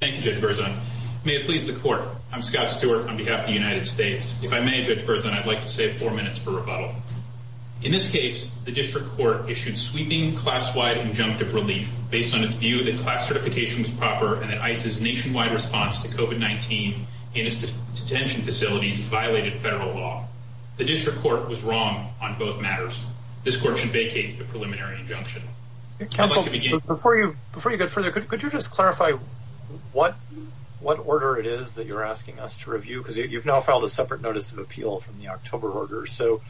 Thank you Judge Berzon. May it please the court, I'm Scott Stewart on behalf of the United States. If I may Judge Berzon, I'd like to save four minutes for rebuttal. In this case, the district court issued sweeping class-wide injunctive relief based on its view that class certification was proper and that ICE's nationwide response to COVID-19 in its detention facilities violated federal law. The district court was wrong on both matters. This court should vacate the preliminary injunction. Counsel, before you go further, could you just clarify what order it is that you're asking us to review? Because you've now filed a separate notice of appeal from the October order. So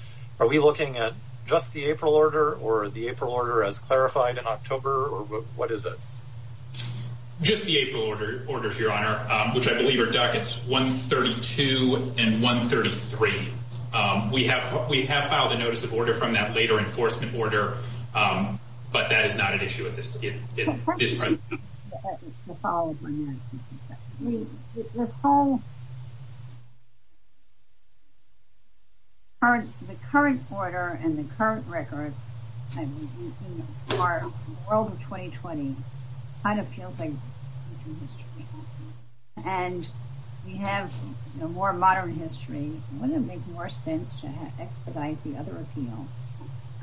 are we looking at just the April order or the April order as clarified in October or what is it? Just the April order, Your Honor, which I believe are dockets 132 and 133. We have filed a notice of order from that later enforcement order, but that is not an issue at this present time. The current order and the current record for the world of 2020 kind of feels like and we have a more modern history. Wouldn't it make more sense to expedite the other appeal?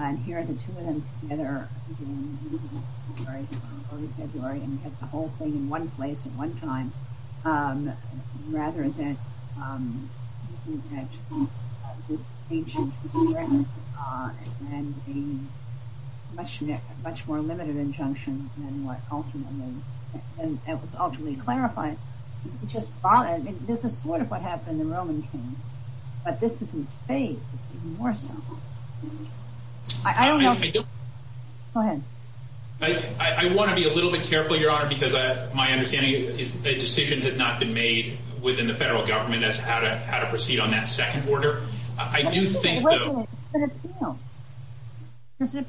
And hear the two of them together in early February and get the whole thing in one place at one time, rather than this ancient agreement and a much more limited injunction than what ultimately, and that was ultimately clarified. This is sort of what happened in the Roman Kings, but this is in spades, even more so. I don't know. Go ahead. I want to be a little bit careful, Your Honor, because my understanding is the decision has not been made within the federal government as to how to proceed on that second order. I do think though. It's an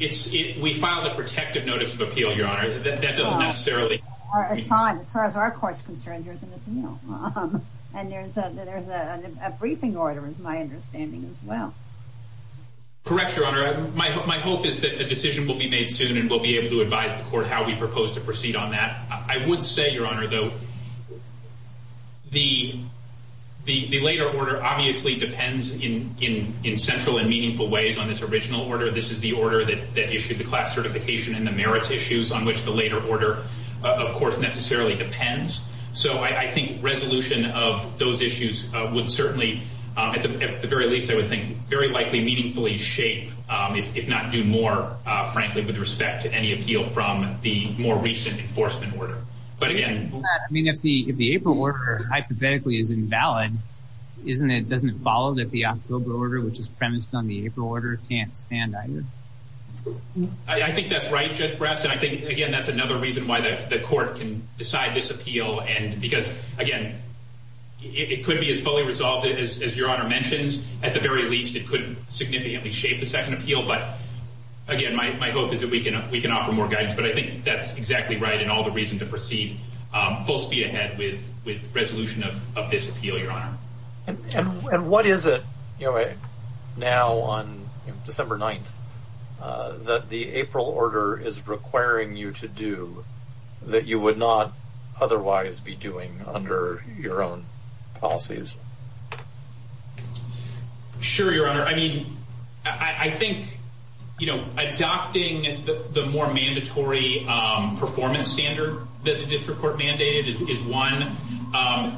appeal. We filed a protective notice of appeal, Your Honor, that doesn't necessarily. Fine. As far as our court's concerned, here's an appeal. And there's a briefing order is my understanding as well. Correct, Your Honor. My hope is that a decision will be made soon and we'll be able to advise the court how we propose to proceed on that. I would say, Your Honor, though, the later order obviously depends in central and meaningful ways on this original order. This is the order that issued the class certification and the merits issues on which the later order of course necessarily depends. So I think resolution of those issues would certainly, at the very least, I would think, very likely meaningfully shape, if not do more, frankly, with respect to any appeal from the more recent enforcement order. But again. I mean, if the April order hypothetically is invalid, isn't it, doesn't it follow that the October order, which is premised on the April order, can't stand either? I think that's right, Judge Brass. And I think again, that's another reason why the court can decide this appeal. And because again, it could be as fully resolved as Your Honor mentions. At the very least, it could significantly shape the second appeal. But again, my hope is that we can offer more guidance. But I think that's exactly right in all the reason to proceed full speed ahead with resolution of this appeal, Your Honor. And what is it now on December 9th that the April order is requiring you to do that you would not otherwise be doing under your own policies? Sure, Your Honor. I mean, I think, you know, adopting the more mandatory performance standard that the district court mandated is one.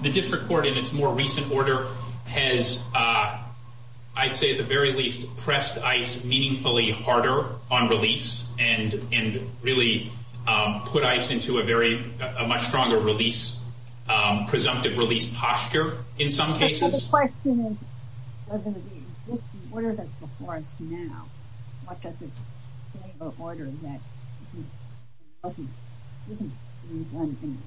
The district court in its more recent order has, I'd say, at the very least, pressed ICE meaningfully harder on release and really put ICE into a very much stronger release, presumptive release posture in some cases. But the question is whether the existing order that's before us now, what does it mean about order that isn't in one thing?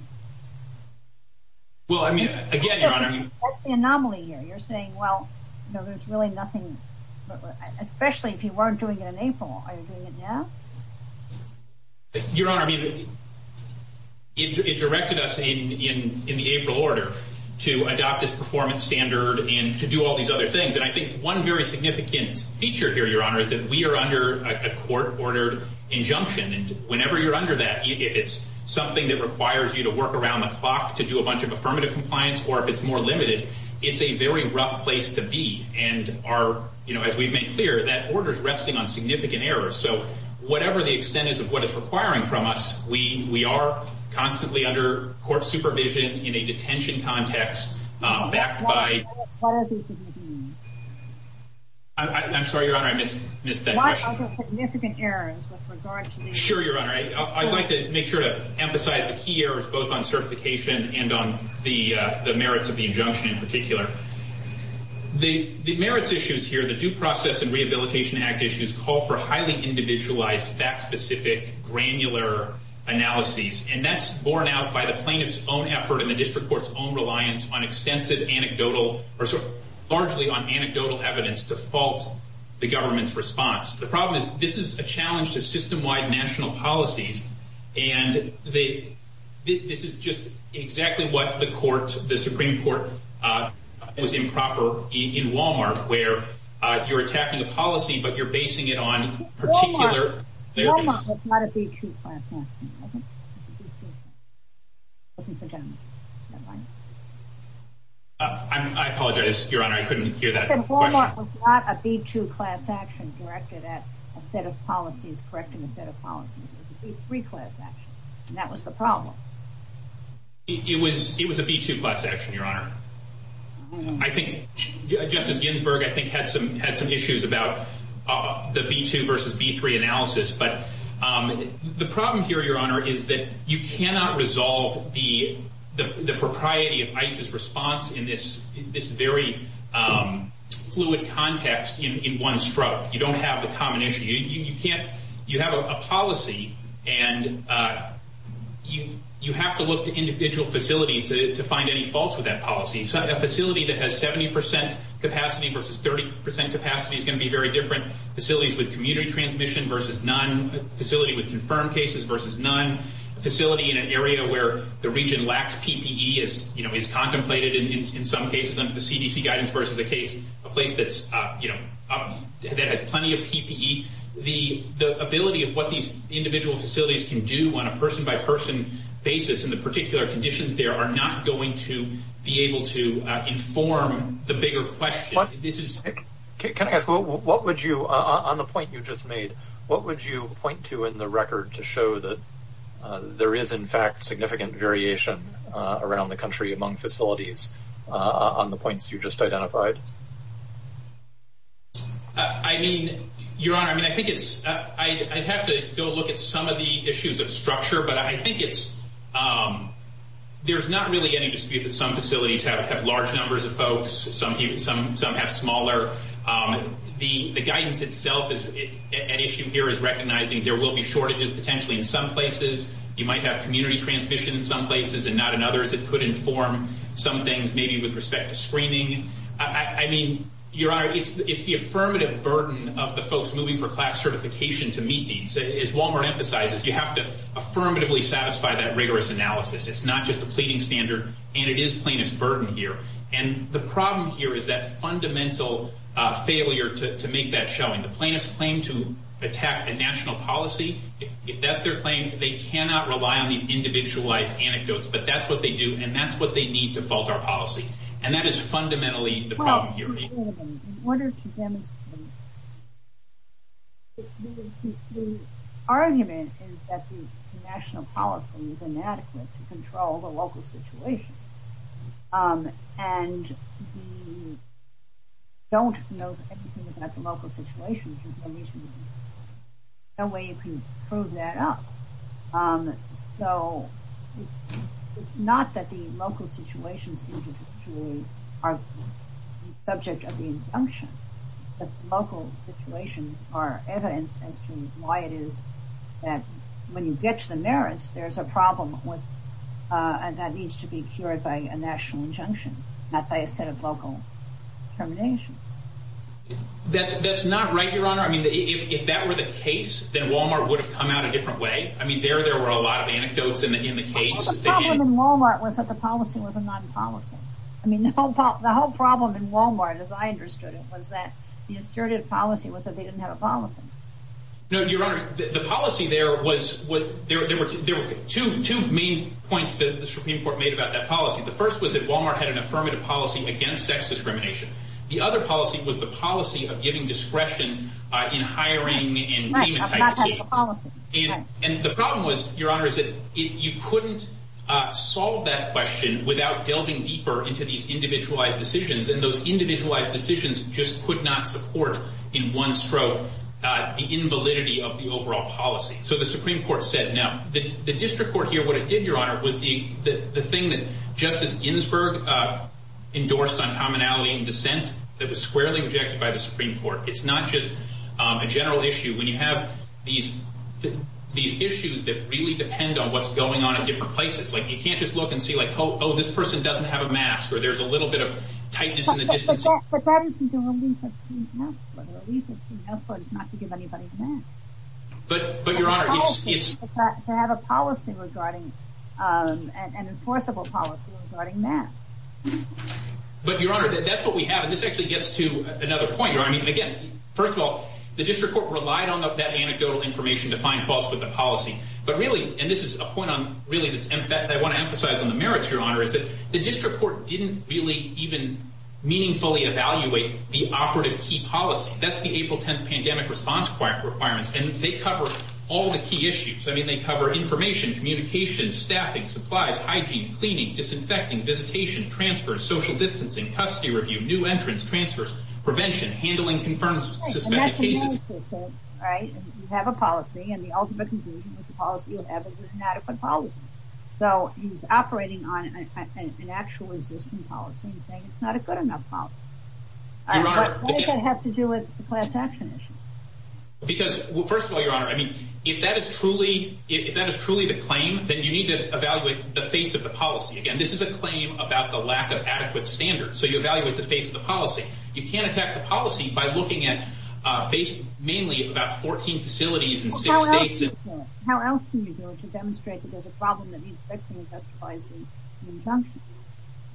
Well, I mean, again, Your Honor. What's the anomaly here? You're saying, well, there's really nothing, especially if you weren't doing it in April. Are you doing it now? Your Honor, it directed us in the April order to adopt this performance standard and to do all these other things. And I think one very significant feature here, Your Honor, is that we are under a court ordered injunction. And whenever you're under that, it's something that requires you to work around the clock to do a bunch of affirmative compliance or if it's more limited, it's a very rough place to be. And as we've made clear, that order's resting on significant errors. So whatever the extent is of what it's requiring from us, we are constantly under court supervision in a detention context backed by... I'm sorry, Your Honor, I missed that question. Why are there significant errors with regard to... Sure, Your Honor. I'd like to make sure to emphasize the key errors both on certification and on the merits of the injunction in particular. The merits issues here, the Due Process and Rehabilitation Act issues, call for highly individualized, fact-specific, granular analyses. And that's borne out by the plaintiff's own effort and the district court's own reliance on extensive anecdotal or largely on anecdotal evidence to fault the government's response. The problem is this is a challenge to system-wide national policies. And this is just exactly what the Supreme Court was improper in Wal-Mart, where you're attacking a policy, but you're basing it on particular... Wal-Mart was not a B2 class action. I apologize, Your Honor, I couldn't hear that question. Wal-Mart was not a B2 class action directed at a set of policies, correcting a set of policies. It was a B3 class action, and that was the problem. It was a B2 class action, Your Honor. I think Justice Ginsburg, I think, had some issues about the B2 versus B3 analysis. But the problem here, Your Honor, is that you cannot resolve the propriety of ICE's response in this very fluid context in one stroke. You don't have the common issue. You have a policy, and you have to look to individual facilities to find any faults with that policy. A facility that has 70 percent capacity versus 30 percent capacity is going to be very different. Facilities with community transmission versus none. A facility with confirmed cases versus none. A facility in an area where the region lacks PPE is contemplated in some cases under the CDC guidance versus a place that has plenty of PPE. The ability of what these individual facilities can do on a person-by-person basis in the particular conditions there are not going to be able to inform the bigger question. Can I ask, on the point you just made, what would you point to in the record to show that there is, in fact, significant variation around the country among facilities on the points you just identified? I mean, Your Honor, I'd have to go look at some of the issues of structure, but I think there's not really any dispute that some facilities have large numbers of folks, some have smaller. The guidance itself, an issue here is recognizing there will be shortages potentially in some places. You might have community transmission in some places and not in others. It could inform some things maybe with respect to screening. I mean, Your Honor, it's the affirmative burden of the folks moving for class certification to meet these. As Walmart emphasizes, you have to affirmatively satisfy that rigorous analysis. It's not just a pleading standard and it is plaintiff's burden here. The problem here is that fundamental failure to make that showing. The plaintiff's claim to attack a national policy, if that's their claim, they cannot rely on these individualized anecdotes, but that's what they do and that's what they need to fault our policy. That is fundamentally the problem here. The argument is that the local situation and we don't know anything about the local situation. There's no way you can prove that up. So it's not that the local situations are the subject of the injunction. The local situations are evidence as to why it is that when you get to the merits, there's a problem with and that needs to be cured by a national injunction, not by a set of local terminations. That's not right, Your Honor. I mean, if that were the case, then Walmart would have come out a different way. I mean, there were a lot of anecdotes in the case. The problem in Walmart was that the policy was a non-policy. I mean, the whole problem in Walmart, as I understood it, was that the assertive policy was that they didn't have a policy. No, Your Honor, the policy there were two main points that the Supreme Court made about that policy. The first was that Walmart had an affirmative policy against sex discrimination. The other policy was the policy of giving discretion in hiring and payment type decisions. And the problem was, Your Honor, is that you couldn't solve that question without delving deeper into these individualized decisions. And those individualized decisions just could not support in one stroke the invalidity of the Supreme Court. Now, the district court here, what it did, Your Honor, was the thing that Justice Ginsburg endorsed on commonality and dissent that was squarely rejected by the Supreme Court. It's not just a general issue when you have these issues that really depend on what's going on in different places. Like, you can't just look and see, like, oh, this person doesn't have a mask, or there's a little bit of tightness in the distancing. But that is until we leave that place not to give anybody a mask. But, Your Honor, it's... To have a policy regarding, an enforceable policy regarding masks. But, Your Honor, that's what we have. And this actually gets to another point. I mean, again, first of all, the district court relied on that anecdotal information to find faults with the policy. But really, and this is a point on, really, I want to emphasize on the merits, Your Honor, is that the district court didn't really even operate a key policy. That's the April 10th pandemic response requirements. And they cover all the key issues. I mean, they cover information, communication, staffing, supplies, hygiene, cleaning, disinfecting, visitation, transfer, social distancing, custody review, new entrance, transfers, prevention, handling confirmed suspected cases. Right. You have a policy, and the ultimate conclusion is the policy is an inadequate policy. So, he's operating on an actual existing policy and saying it's not a good enough policy. What does that have to do with the class action issue? Because, well, first of all, Your Honor, I mean, if that is truly the claim, then you need to evaluate the face of the policy. Again, this is a claim about the lack of adequate standards. So, you evaluate the face of the policy. You can't attack the policy by looking at based mainly about 14 facilities in six states. How else can you do it to demonstrate that there's a problem that needs fixing and justifies the injunction?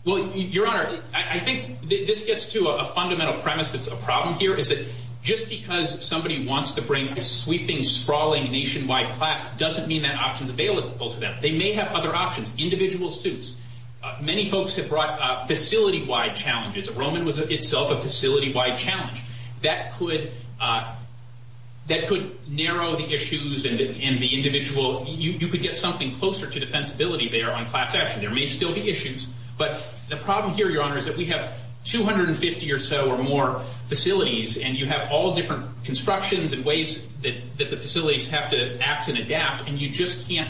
Well, Your Honor, I think this gets to a fundamental premise that's a problem here, is that just because somebody wants to bring a sweeping, sprawling nationwide class doesn't mean that option's available to them. They may have other options, individual suits. Many folks have brought facility-wide challenges. Roman was itself a facility-wide challenge. That could narrow the issues and the individual, you could get something closer to defensibility there on class action. There may still be issues, but the problem here, Your Honor, is that we have 250 or so or more facilities, and you have all different constructions and ways that the facilities have to act and adapt, and you just can't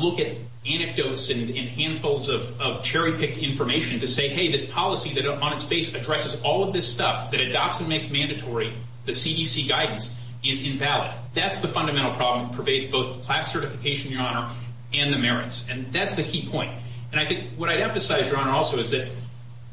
look at anecdotes and handfuls of cherry-picked information to say, hey, this policy that on its face addresses all of this stuff, that adopts and makes mandatory the CDC guidance, is invalid. That's the fundamental problem that pervades both class certification, Your Honor, and the merits, and that's the key point. And I think what I'd emphasize, Your Honor, also is that,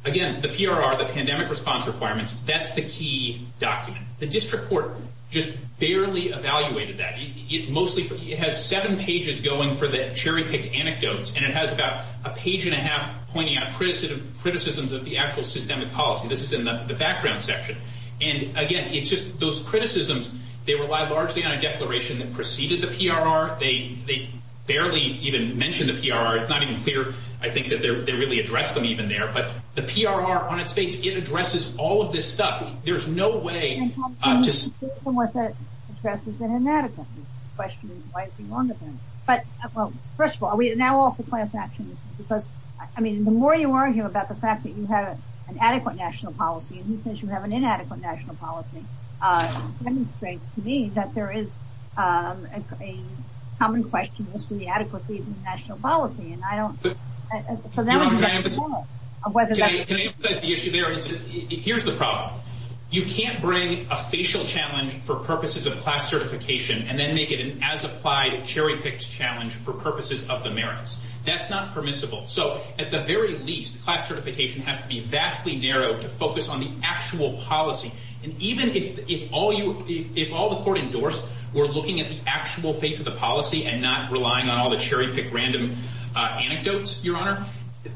again, the PRR, the pandemic response requirements, that's the key document. The district court just barely evaluated that. It mostly, it has seven pages going for the cherry-picked anecdotes, and it has about a page and a half pointing out criticisms of the actual systemic policy. This is in the background section. And, again, it's just those criticisms, they rely largely on a declaration that preceded the PRR. They barely even mention the PRR. It's not even clear, I think, that they really address them even there, but the PRR on its face, it addresses all of this stuff. There's no way just... And how can you say something like that addresses an inadequate? You're questioning why it's been wrong to them. But, well, first of all, are we now off to class action? Because, I mean, the more you argue about the fact that you have an adequate national policy, and he says you have an inadequate national policy, demonstrates to me that there is a common question as to the adequacy of the national policy. And I don't... For them, it's a matter of whether that's... Can I emphasize the issue there? Here's the problem. You can't bring a facial challenge for purposes of class certification and then make it an as-applied cherry-picked challenge for purposes of the merits. That's not permissible. So, at the very least, class certification has to be vastly narrowed to focus on the actual policy. And even if all the court endorsed were looking at the actual face of the policy and not relying on all the cherry-picked random anecdotes, Your Honor,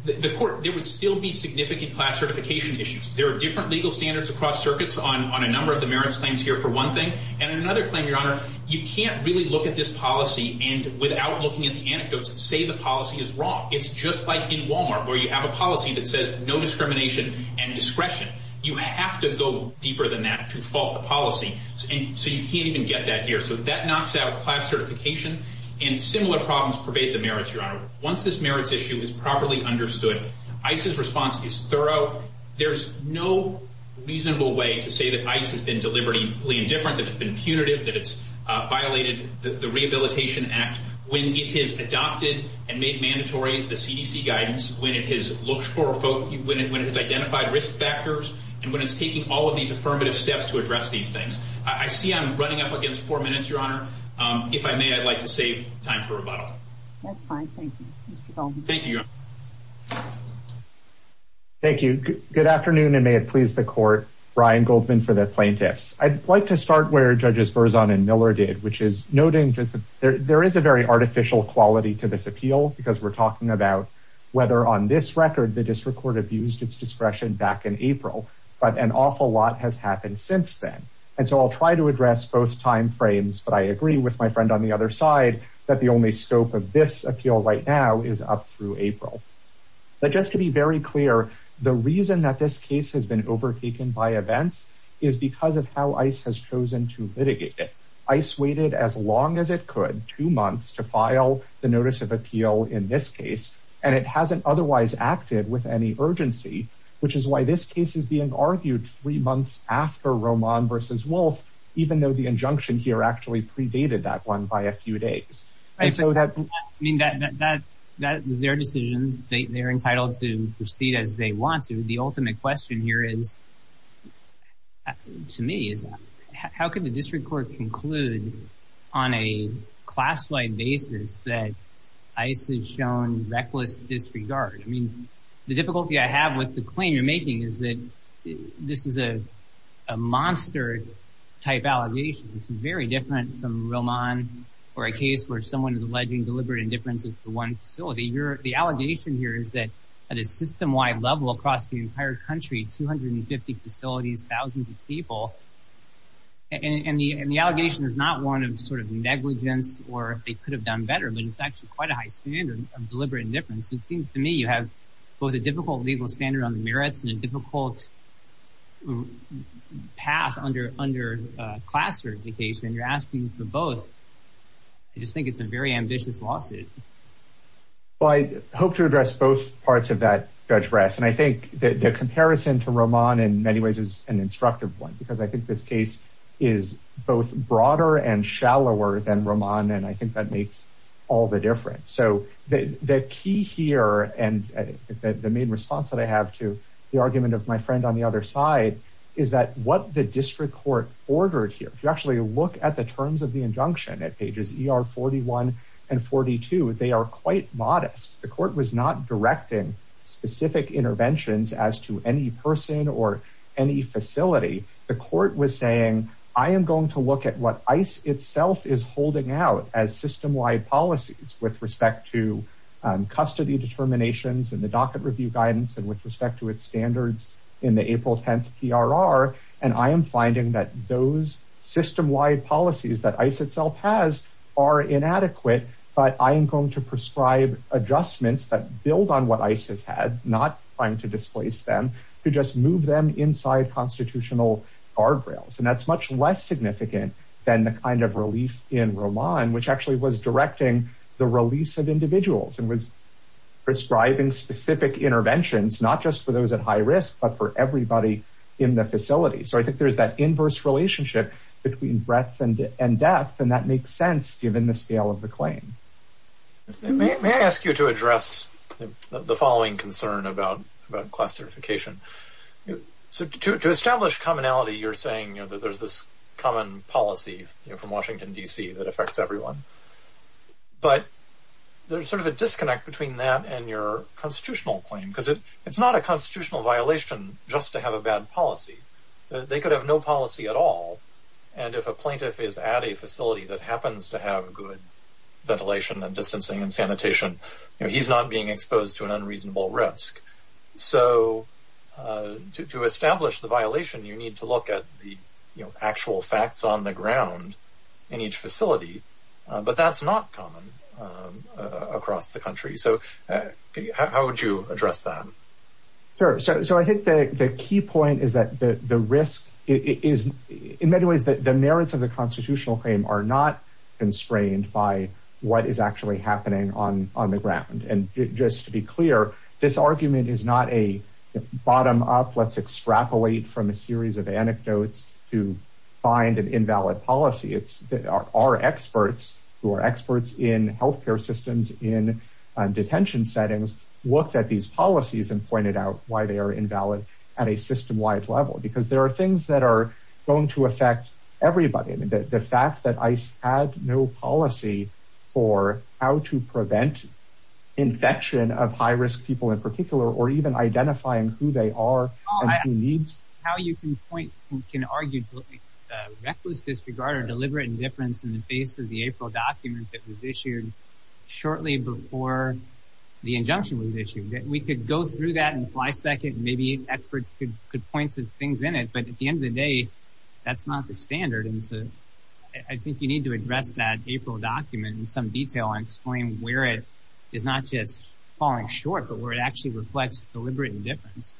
the court... There would still be significant class certification issues. There are different legal standards across circuits on a number of the merits claims here, for one thing. And another claim, Your Honor, you can't really look at this policy and without looking at the anecdotes and say the policy is wrong. It's just like in Walmart, where you have a policy that says no discrimination and discretion. You have to go deeper than that to fault the policy, and so you can't even get that here. So that knocks out class certification, and similar problems pervade the merits, Your Honor. Once this merits issue is properly understood, ICE's response is thorough. There's no reasonable way to say that ICE has been deliberately indifferent, that it's been punitive, that it's violated the Rehabilitation Act when it has adopted and made mandatory the CDC guidance, when it has identified risk factors, and when it's taking all of these affirmative steps to address these things. I see I'm running up against four minutes, Your Honor. If I may, I'd like to save time for rebuttal. That's fine. Thank you, Mr. Goldman. Thank you, Your Honor. Thank you. Good afternoon, and may it please the court, Brian Goldman for the plaintiffs. I'd like to start where Judges Berzon and Miller did, which is noting just that there is a very artificial quality to this appeal, because we're talking about whether on this record the district court abused its discretion back in April, but an awful lot has happened since then. And so I'll try to address both time frames, but I agree with my friend on the other side that the only scope of this appeal right now is up through April. But just to be very clear, the reason that this case has overtaken by events is because of how ICE has chosen to litigate it. ICE waited as long as it could, two months, to file the notice of appeal in this case, and it hasn't otherwise acted with any urgency, which is why this case is being argued three months after Roman v. Wolf, even though the injunction here actually predated that one by a few days. I mean, that is their decision. They're entitled to proceed as they want to. The ultimate question here is, to me, is how can the district court conclude on a class-wide basis that ICE has shown reckless disregard? I mean, the difficulty I have with the claim you're making is that this is a monster-type allegation. It's very different from Roman or a case where someone alleging deliberate indifference is the one facility. The allegation here is that at a system-wide level across the entire country, 250 facilities, thousands of people, and the allegation is not one of sort of negligence or if they could have done better, but it's actually quite a high standard of deliberate indifference. It seems to me you have both a difficult legal standard on the merits and a difficult path under class certification. You're asking for both. I just think it's a very ambitious lawsuit. Well, I hope to address both parts of that, Judge Brass, and I think the comparison to Roman in many ways is an instructive one because I think this case is both broader and shallower than Roman and I think that makes all the difference. So the key here and the main response that I have to the argument of my friend on the other side is that what the district court ordered here, if you actually look at the terms of the injunction at pages ER 41 and 42, they are quite modest. The court was not directing specific interventions as to any person or any facility. The court was saying, I am going to look at what ICE itself is holding out as system-wide policies with respect to custody determinations and the docket review guidance and with respect to its policies that ICE itself has are inadequate, but I am going to prescribe adjustments that build on what ICE has had, not trying to displace them, to just move them inside constitutional guardrails. And that's much less significant than the kind of relief in Roman, which actually was directing the release of individuals and was prescribing specific interventions, not just for those at high risk, but for everybody in the facility. So I think there's that inverse relationship between breadth and depth, and that makes sense given the scale of the claim. May I ask you to address the following concern about class certification? So to establish commonality, you're saying that there's this common policy from Washington, D.C. that affects everyone, but there's sort of a disconnect between that and your constitutional claim, because it's and if a plaintiff is at a facility that happens to have good ventilation and distancing and sanitation, he's not being exposed to an unreasonable risk. So to establish the violation, you need to look at the actual facts on the ground in each facility, but that's not common across the country. So how would you address that? Sure. So I think the key point is that the risk is in many ways that the merits of the constitutional claim are not constrained by what is actually happening on the ground. And just to be clear, this argument is not a bottom-up, let's extrapolate from a series of anecdotes to find an invalid policy. It's our experts who are experts in health care systems, in detention settings, looked at these policies and pointed out why they are invalid at a system-wide level, because there are things that are going to affect everybody. The fact that ICE had no policy for how to prevent infection of high-risk people in particular, or even identifying who they are and who needs... How you can point, you can argue, reckless disregard or deliberate indifference in the face of the April document that was issued shortly before the injunction was issued. We could go through that and flyspeck it, maybe experts could point to things in it, but at the end of the day, that's not the standard. And so I think you need to address that April document in some detail and explain where it is not just falling short, but where it actually reflects deliberate indifference.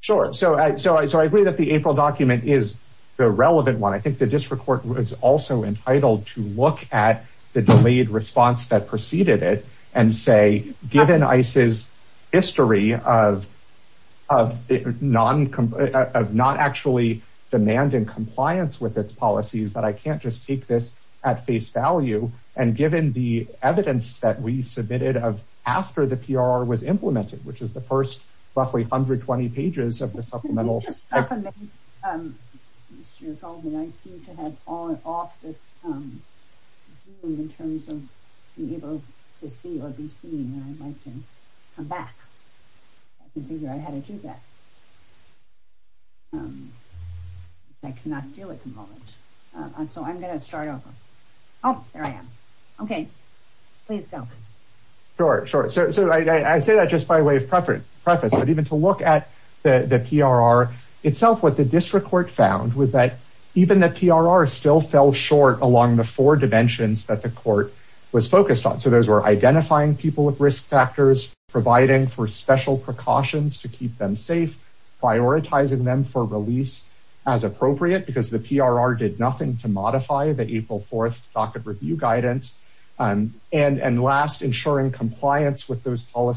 Sure. So I agree that the April document is the relevant one. I think the district court was also entitled to look at the delayed response that preceded it and say, given ICE's history of not actually demanding compliance with its policies, that I can't just take this at face value. And given the evidence that we submitted after the PRR was implemented, which is the first roughly 120 pages of the supplemental... Mr. Goldman, I seem to have off this zoom in terms of being able to see or be seen. And I'd like to come back and figure out how to do that. I cannot do it at the moment. So I'm going to start over. Oh, there I am. Okay. Please go. Sure. Sure. So I say that just by way of preface, but even to look at the PRR itself, what the district court found was that even the PRR still fell short along the four dimensions that the court was focused on. So those were identifying people with risk factors, providing for special precautions to keep them safe, prioritizing them for release as appropriate because the PRR did nothing to modify the April 4th docket review guidance and last ensuring compliance with those What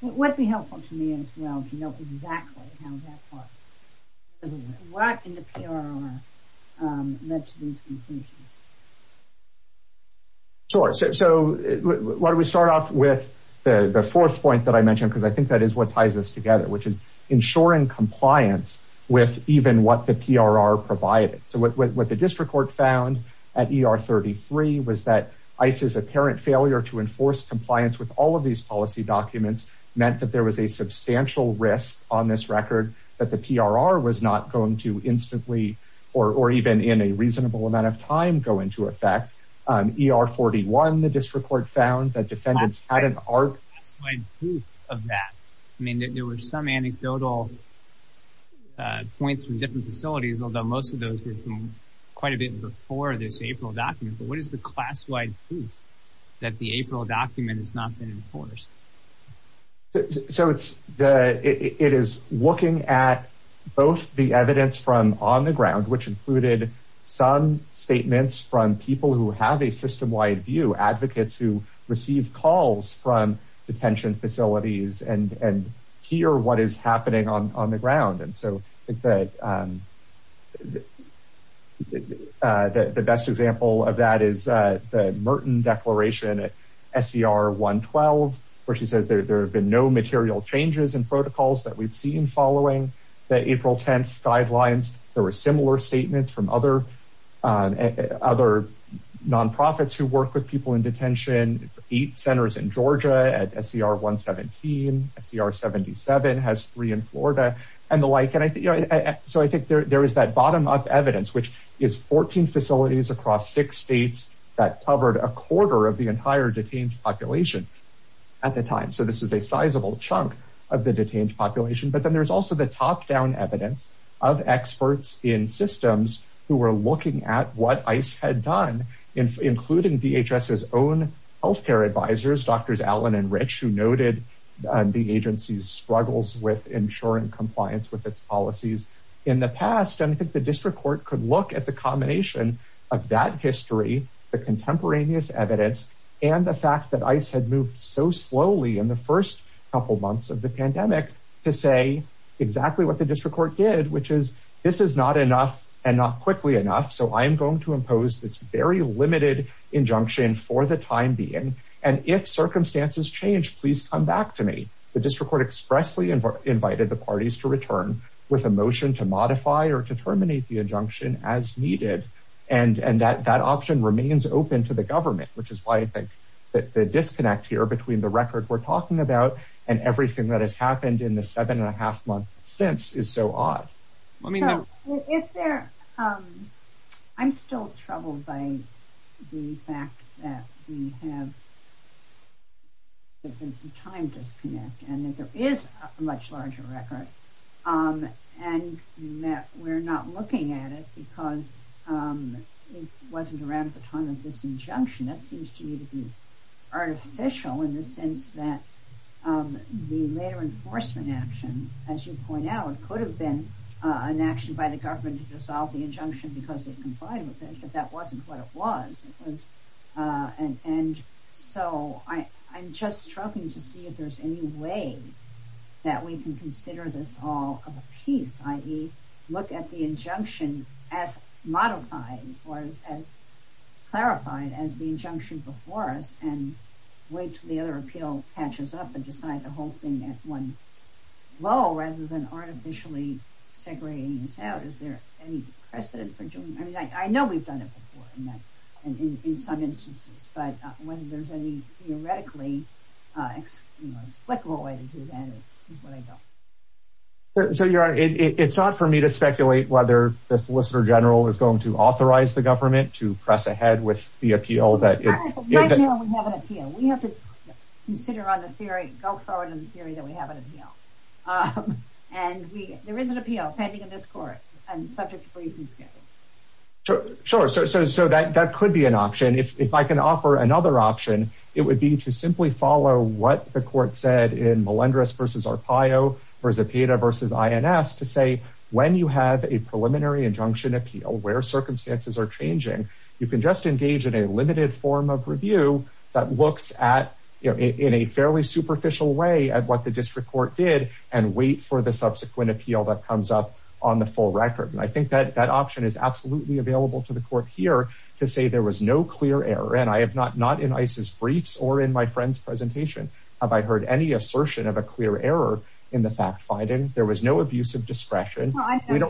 would be helpful to me as well to know exactly how that works? What in the PRR led to these conclusions? Sure. So why don't we start off with the fourth point that I mentioned, because I think that is what ties us together, which is ensuring compliance with even what the PRR provided. So what the district court found at ER 33 was that ICE's apparent failure to enforce compliance with all of these policy documents meant that there was a substantial risk on this record that the PRR was not going to instantly or even in a reasonable amount of time go into effect. ER 41, the district court found that defendants had an arc of that. I mean, there were some anecdotal points from different facilities, although most of those were quite a bit before this April document. But what is the class-wide proof that the April document has not been enforced? So it is looking at both the evidence from on the ground, which included some statements from people who have a system-wide view, advocates who receive calls from detention facilities and hear what is happening on the ground. And so I think that the best example of that is the Merton declaration at SCR 112, where she says there have been no material changes in protocols that we've seen following the April 10th guidelines. There were similar statements from other non-profits who work with people in detention, eight centers in Georgia at SCR 117, SCR 77 has three in Florida and the like. So I think there is that bottom-up evidence, which is 14 facilities across six states that covered a quarter of the entire detained population at the time. So this is a sizable chunk of the detained population. But then there's also the top-down evidence of experts in systems who were looking at what ICE had done, including DHS's own healthcare advisors, Drs. Allen and Rich, who noted the agency's struggles with ensuring compliance with its policies in the past. And I think the district court could look at the combination of that history, the contemporaneous evidence, and the fact that ICE had moved so slowly in the first couple months of the pandemic to say exactly what the district court did, which is this is not enough and not quickly enough. So I am going to impose this very limited injunction for the time being. And if circumstances change, please come back to me. The district court expressly invited the parties to return with a motion to modify or to terminate the injunction as needed. And that option remains open to the government, which is why I think that the disconnect here between the record we're talking about and everything that has happened in the seven and a half month since is so odd. I'm still troubled by the fact that we have a time disconnect and that there is a much larger record and that we're not looking at it because it wasn't around the time of this injunction. That seems to me to be artificial in the sense that the later enforcement action, as you point out, it could have been an action by the government to dissolve the injunction because it complied with it, but that wasn't what it was. And so I'm just struggling to see if there's any way that we can consider this all of a piece, i.e. look at the injunction as modified or as clarified as the injunction before us and wait till the other appeal catches up and decide the artificially segregating this out. Is there any precedent for doing that? I know we've done it before in some instances, but when there's any theoretically explicable way to do that is what I don't. So you're right. It's not for me to speculate whether the solicitor general is going to authorize the government to press ahead with the appeal that we have to consider on the go forward in the theory that we have an appeal. And there is an appeal pending in this court and subject to reasons. Sure. So that could be an option. If I can offer another option, it would be to simply follow what the court said in Melendrez versus Arpaio versus PETA versus INS to say when you have a preliminary injunction appeal, where circumstances are changing, you can just engage in a limited form of review that looks at in a fairly superficial way at what the district court did and wait for the subsequent appeal that comes up on the full record. And I think that that option is absolutely available to the court here to say there was no clear error. And I have not, not in ICE's briefs or in my friend's presentation have I heard any assertion of a clear error in the fact finding. There was no abuse of discretion. I think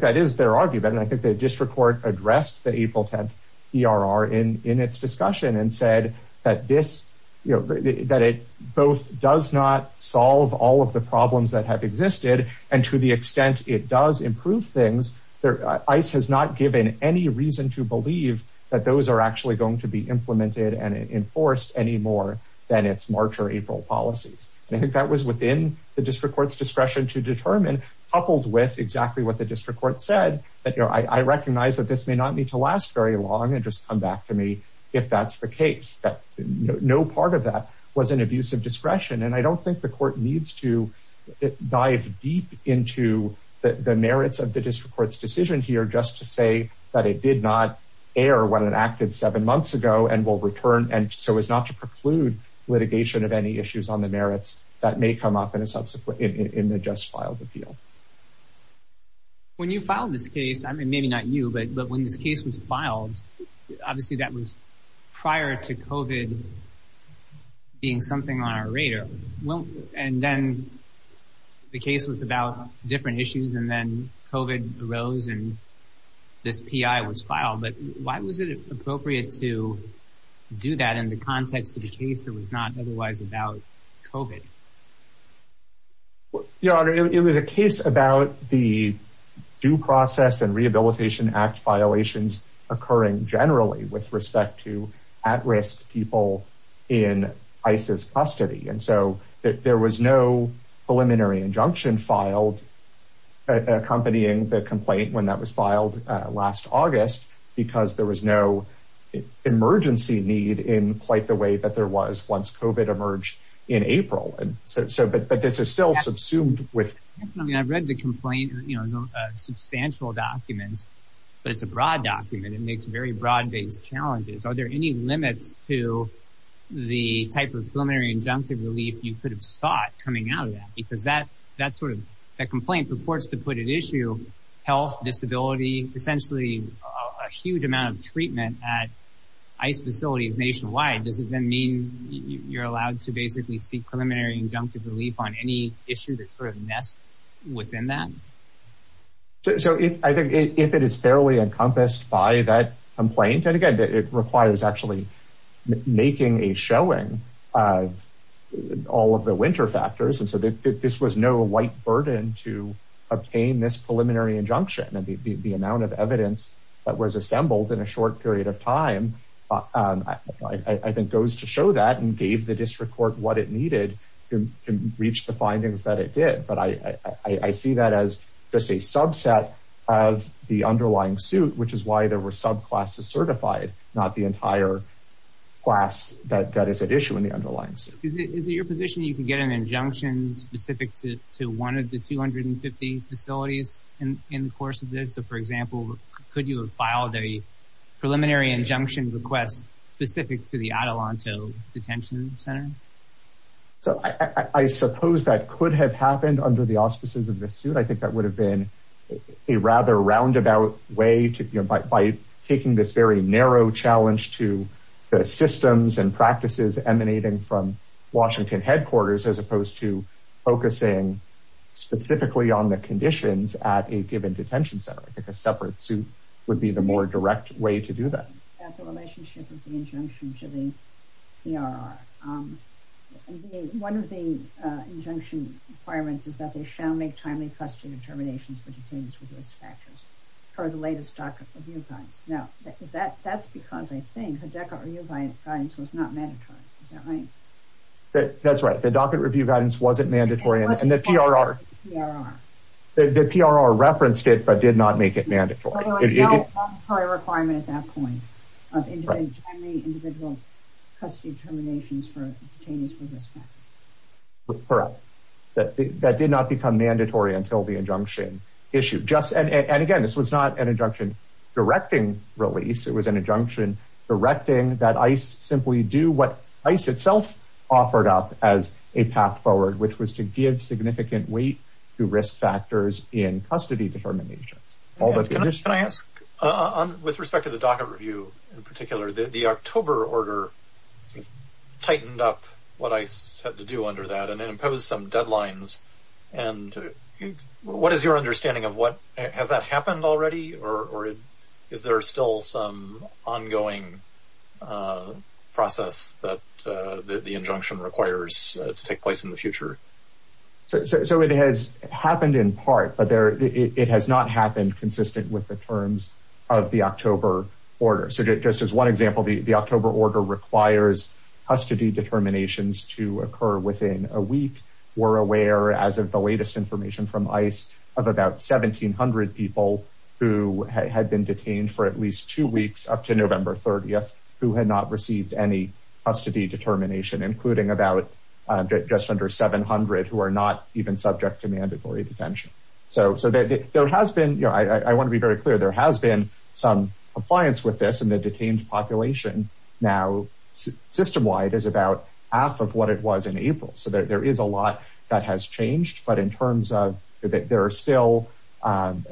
that is their argument. And I think the district court addressed the April 10th ERR in its discussion and said that this, you know, that it both does not solve all of the problems that have existed. And to the extent it does improve things there, ICE has not given any reason to believe that those are actually going to be implemented and enforced anymore than its March or April policies. And I think that was within the district court's discretion to determine coupled with exactly what the district court said that, you know, I recognize that this may not need to last very long and just come back to me if that's the case, that no part of that was an abuse of discretion. And I don't think the court needs to dive deep into the merits of the district court's decision here just to say that it did not err when it acted seven months ago and will return. And so as not to preclude litigation of any issues on the merits that may come up in a subsequent, in the just filed appeal. When you filed this case, I mean, maybe not you, but when this case was filed, obviously that was prior to COVID being something on our radar. And then the case was about different issues and then COVID arose and this PI was filed, but why was it appropriate to do that in the context of the case that was not otherwise about COVID? Your Honor, it was a case about the due process and Rehabilitation Act violations occurring generally with respect to at risk people in ISIS custody. And so there was no preliminary injunction filed accompanying the complaint when that was filed last August, because there was no emergency need in quite the way that there was once COVID emerged in April. And so, but this is still subsumed with, I mean, I've read the complaint, you know, substantial documents, but it's a broad document. It makes very broad based challenges. Are there any limits to the type of preliminary injunctive relief you could have sought coming out of that? Because that, that sort of, that complaint purports to put at issue health, disability, essentially a huge amount of treatment at ICE facilities nationwide. Does it then mean you're allowed to basically seek preliminary injunctive relief on any issue that sort of within that? So I think if it is fairly encompassed by that complaint, and again, it requires actually making a showing of all of the winter factors. And so this was no white burden to obtain this preliminary injunction. And the amount of evidence that was assembled in a short period of time, I think goes to show that and gave the district court what it needed to reach the I see that as just a subset of the underlying suit, which is why there were subclasses certified, not the entire class that is at issue in the underlying suit. Is it your position you can get an injunction specific to one of the 250 facilities in the course of this? So for example, could you have filed a preliminary injunction request specific to the Atalanto Detention Center? So I suppose that could have happened under the auspices of the suit. I think that would have been a rather roundabout way to, you know, by taking this very narrow challenge to the systems and practices emanating from Washington headquarters, as opposed to focusing specifically on the conditions at a given detention center. I think a separate suit would be the more direct way to do that. One of the injunction requirements is that they shall make timely custody determinations for detainees with risk factors for the latest docket review guidance. Now is that, that's because I think the docket review guidance was not mandatory. Is that right? That's right. The docket review guidance wasn't mandatory and PRR referenced it, but did not make it mandatory. There was no mandatory requirement at that point of individual custody determinations for detainees with risk factors. Correct. That did not become mandatory until the injunction issue. And again, this was not an injunction directing release. It was an injunction directing that ICE simply do what ICE itself offered up as a path forward, which was to give significant weight to risk factors in custody determinations. Can I ask, with respect to the docket review in particular, the October order tightened up what ICE had to do under that and imposed some deadlines. And what is your understanding of what, has that happened already? Or is there still some ongoing process that the injunction requires to take place in the future? So it has happened in part, but there, it has not happened consistent with the terms of the October order. So just as one example, the October order requires custody determinations to occur within a week. We're aware as of the latest information from ICE of about 1700 people who had been detained for at November 30th, who had not received any custody determination, including about just under 700, who are not even subject to mandatory detention. So there has been, I want to be very clear, there has been some compliance with this and the detained population now system-wide is about half of what it was in April. So there is a lot that has changed, but in terms of there are still um,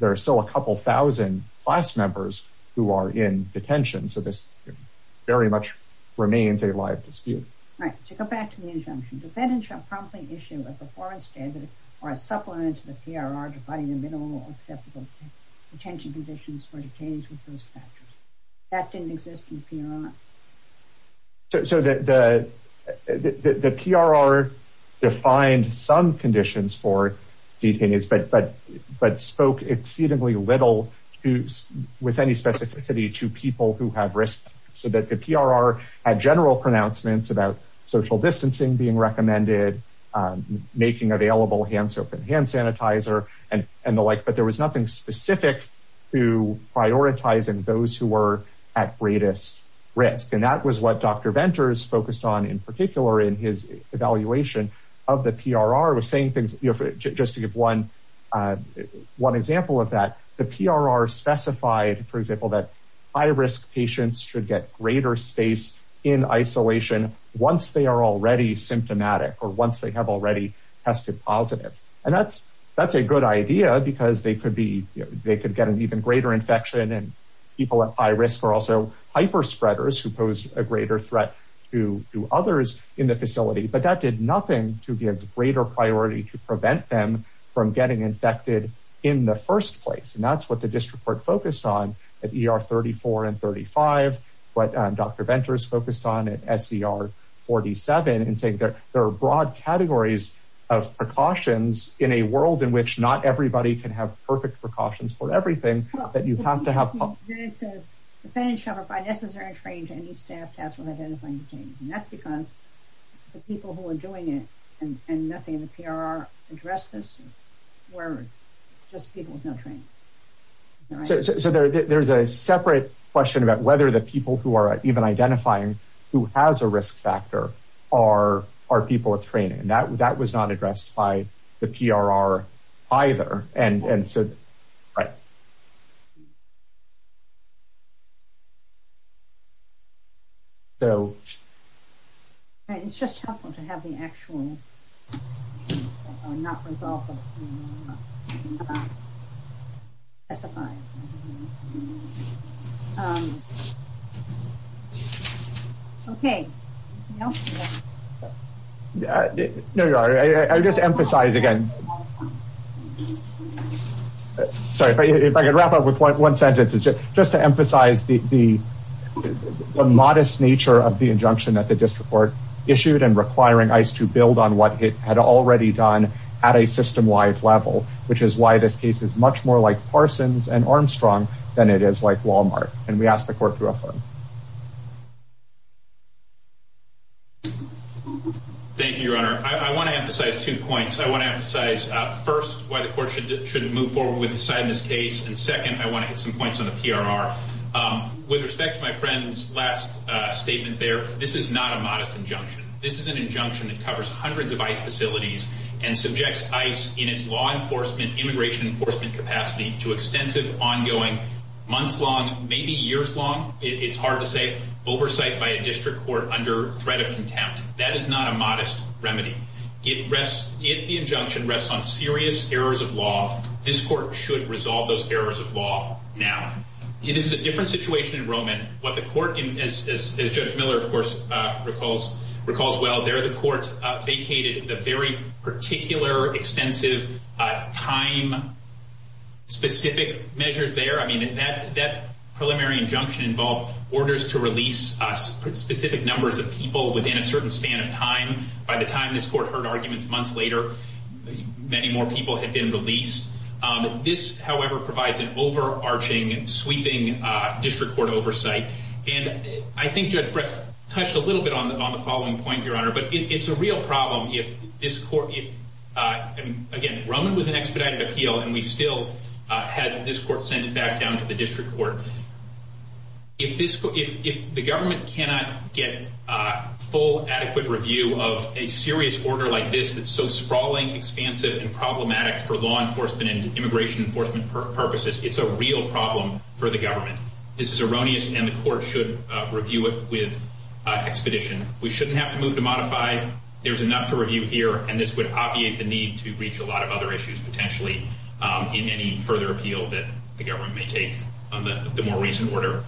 there are still a couple thousand class members who are in detention. So this very much remains a live dispute. Right. To go back to the injunction, defendants shall promptly issue a performance standard or a supplement to the PRR defining the minimum acceptable detention conditions for detainees with those factors. That didn't exist in the, the, the PRR defined some conditions for detainees, but, but, but spoke exceedingly little with any specificity to people who have risk. So that the PRR had general pronouncements about social distancing being recommended, um, making available hands, open hand sanitizer and, and the like, but there was nothing specific to prioritizing those who were at greatest risk. And that was what Dr. Venters focused on in particular in his evaluation of the PRR was saying things just to give one, uh, one example of that, the PRR specified, for example, that high risk patients should get greater space in isolation once they are already symptomatic or once they have already tested positive. And that's, that's a good idea because they could be, they could get an even greater infection and people at high risk are also hyper spreaders who pose a greater threat to others in the facility, but that did nothing to be a greater priority to prevent them from getting infected in the first place. And that's what the district court focused on at ER 34 and 35, but Dr. Venters focused on at SCR 47 and say there are broad categories of precautions in a world in which not everybody can have perfect precautions for everything that you have to have. And that's because the people who are doing it and nothing in the PRR addressed this were just people with no training. So there's a separate question about whether the people who even identifying who has a risk factor are, are people with training and that, that was not addressed by the PRR either. And, and so, right. So it's just helpful to have the actual, not resolved. Okay. No, I just emphasize again. Sorry, if I could wrap up with one sentence, just to emphasize the, the modest nature of the injunction that the district court issued and requiring ICE to build on what it had already done at a system-wide level, which is why this case is much more like Parsons and Armstrong than it is like Walmart. And we asked the court to affirm. Thank you, your honor. I want to emphasize two points. I want to emphasize first why the court should move forward with deciding this case. And second, I want to hit some points on the PRR with respect to my friend's last statement there. This is not a modest injunction. This is an injunction that covers hundreds of ICE facilities and subjects ICE in its law enforcement, immigration enforcement capacity to extensive ongoing months long, maybe years long. It's hard to say oversight by a district court under threat of contempt. That is not a modest remedy. It rests in the injunction rests on serious errors of law. This court should resolve those errors of law. Now it is a different situation in Roman. What recalls well there, the court vacated the very particular extensive time specific measures there. I mean, if that preliminary injunction involved orders to release specific numbers of people within a certain span of time, by the time this court heard arguments months later, many more people had been released. This, however, provides an overarching sweeping district court oversight. And I think Judge Press touched a little bit on the following point, your honor, but it's a real problem. If this court, if again, Roman was an expedited appeal and we still had this court sent it back down to the district court. If this, if the government cannot get a full adequate review of a serious order like this, that's so sprawling, expansive and problematic for law enforcement and immigration enforcement purposes, it's a real problem for the government. This is erroneous and the court should review it with expedition. We shouldn't have to move to modify. There's enough to review here. And this would obviate the need to reach a lot of other issues potentially in any further appeal that the government may take on the more recent order.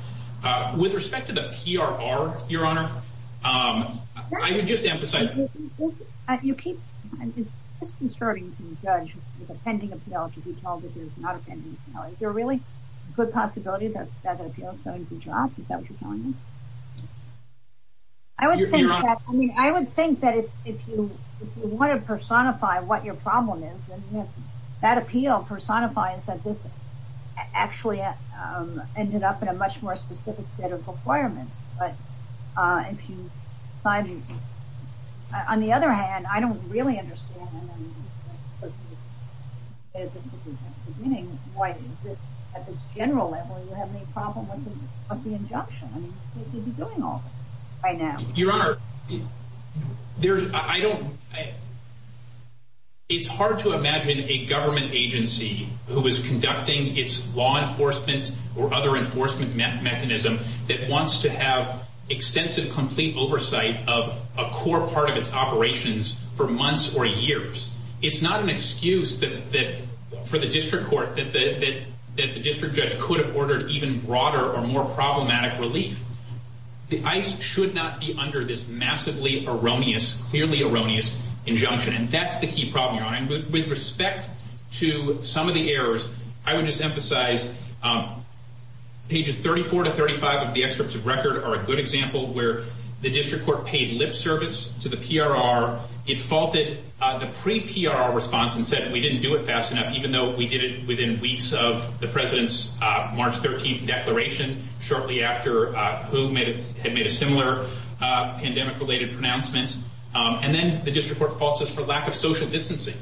With respect to the PRR, your honor, I would just put possibility that the appeal is going to drop. Is that what you're telling me? I would think that if you want to personify what your problem is, that appeal personifies that this actually ended up in a much more specific set of requirements. But on the other hand, I don't really understand why at this general level you have any problem with the injunction. I mean, you'd be doing all this by now. Your honor, there's, I don't, it's hard to imagine a government agency who is conducting its law enforcement or other enforcement mechanism that wants to have extensive, complete oversight of a core part of its operations for months or years. It's not an excuse for the district court that the district judge could have ordered even broader or more problematic relief. The ICE should not be under this massively erroneous, clearly erroneous injunction. And that's the key problem, your honor. And with respect to some of the errors, I would just emphasize pages 34 to 35 of the excerpts of record are a good faulted the pre PRR response and said we didn't do it fast enough, even though we did it within weeks of the president's March 13th declaration shortly after who had made a similar pandemic related pronouncements. And then the district court faults us for lack of social distancing.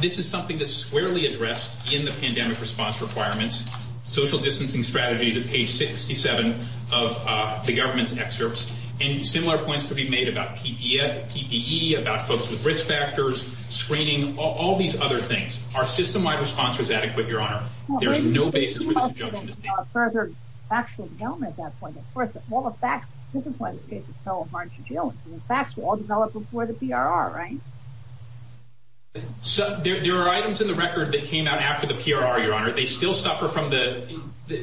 This is something that's squarely addressed in the pandemic response requirements, social distancing strategies at page 67 of the government's excerpts. And similar points could be made about PPE, PPE, about folks with risk factors, screening, all these other things. Our system wide response was adequate, your honor. There's no basis for this injunction. So there are items in the record that came out after the PRR, your honor. They still suffer from the,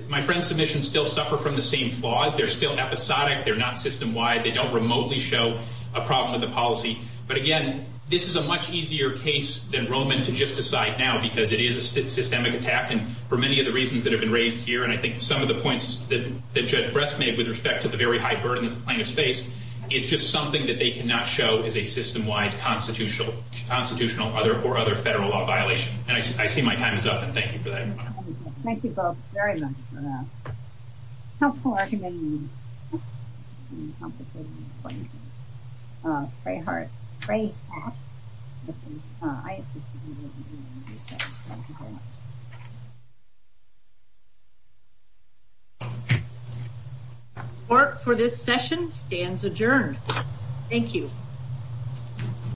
my friend's submissions still suffer from the same flaws. They're still episodic. They're not system wide. They don't remotely show a problem with the policy. But again, this is a much easier case than Roman to just decide now because it is a systemic attack. And for many of the reasons that have been raised here, and I think some of the points that the judge breast made with respect to the very high burden of plaintiff's face, it's just something that they cannot show as a system wide constitutional, constitutional, other or other federal law violation. And I see my time is up. And thank you for that. Thank you both very much for that. Court for this session stands adjourned. Thank you.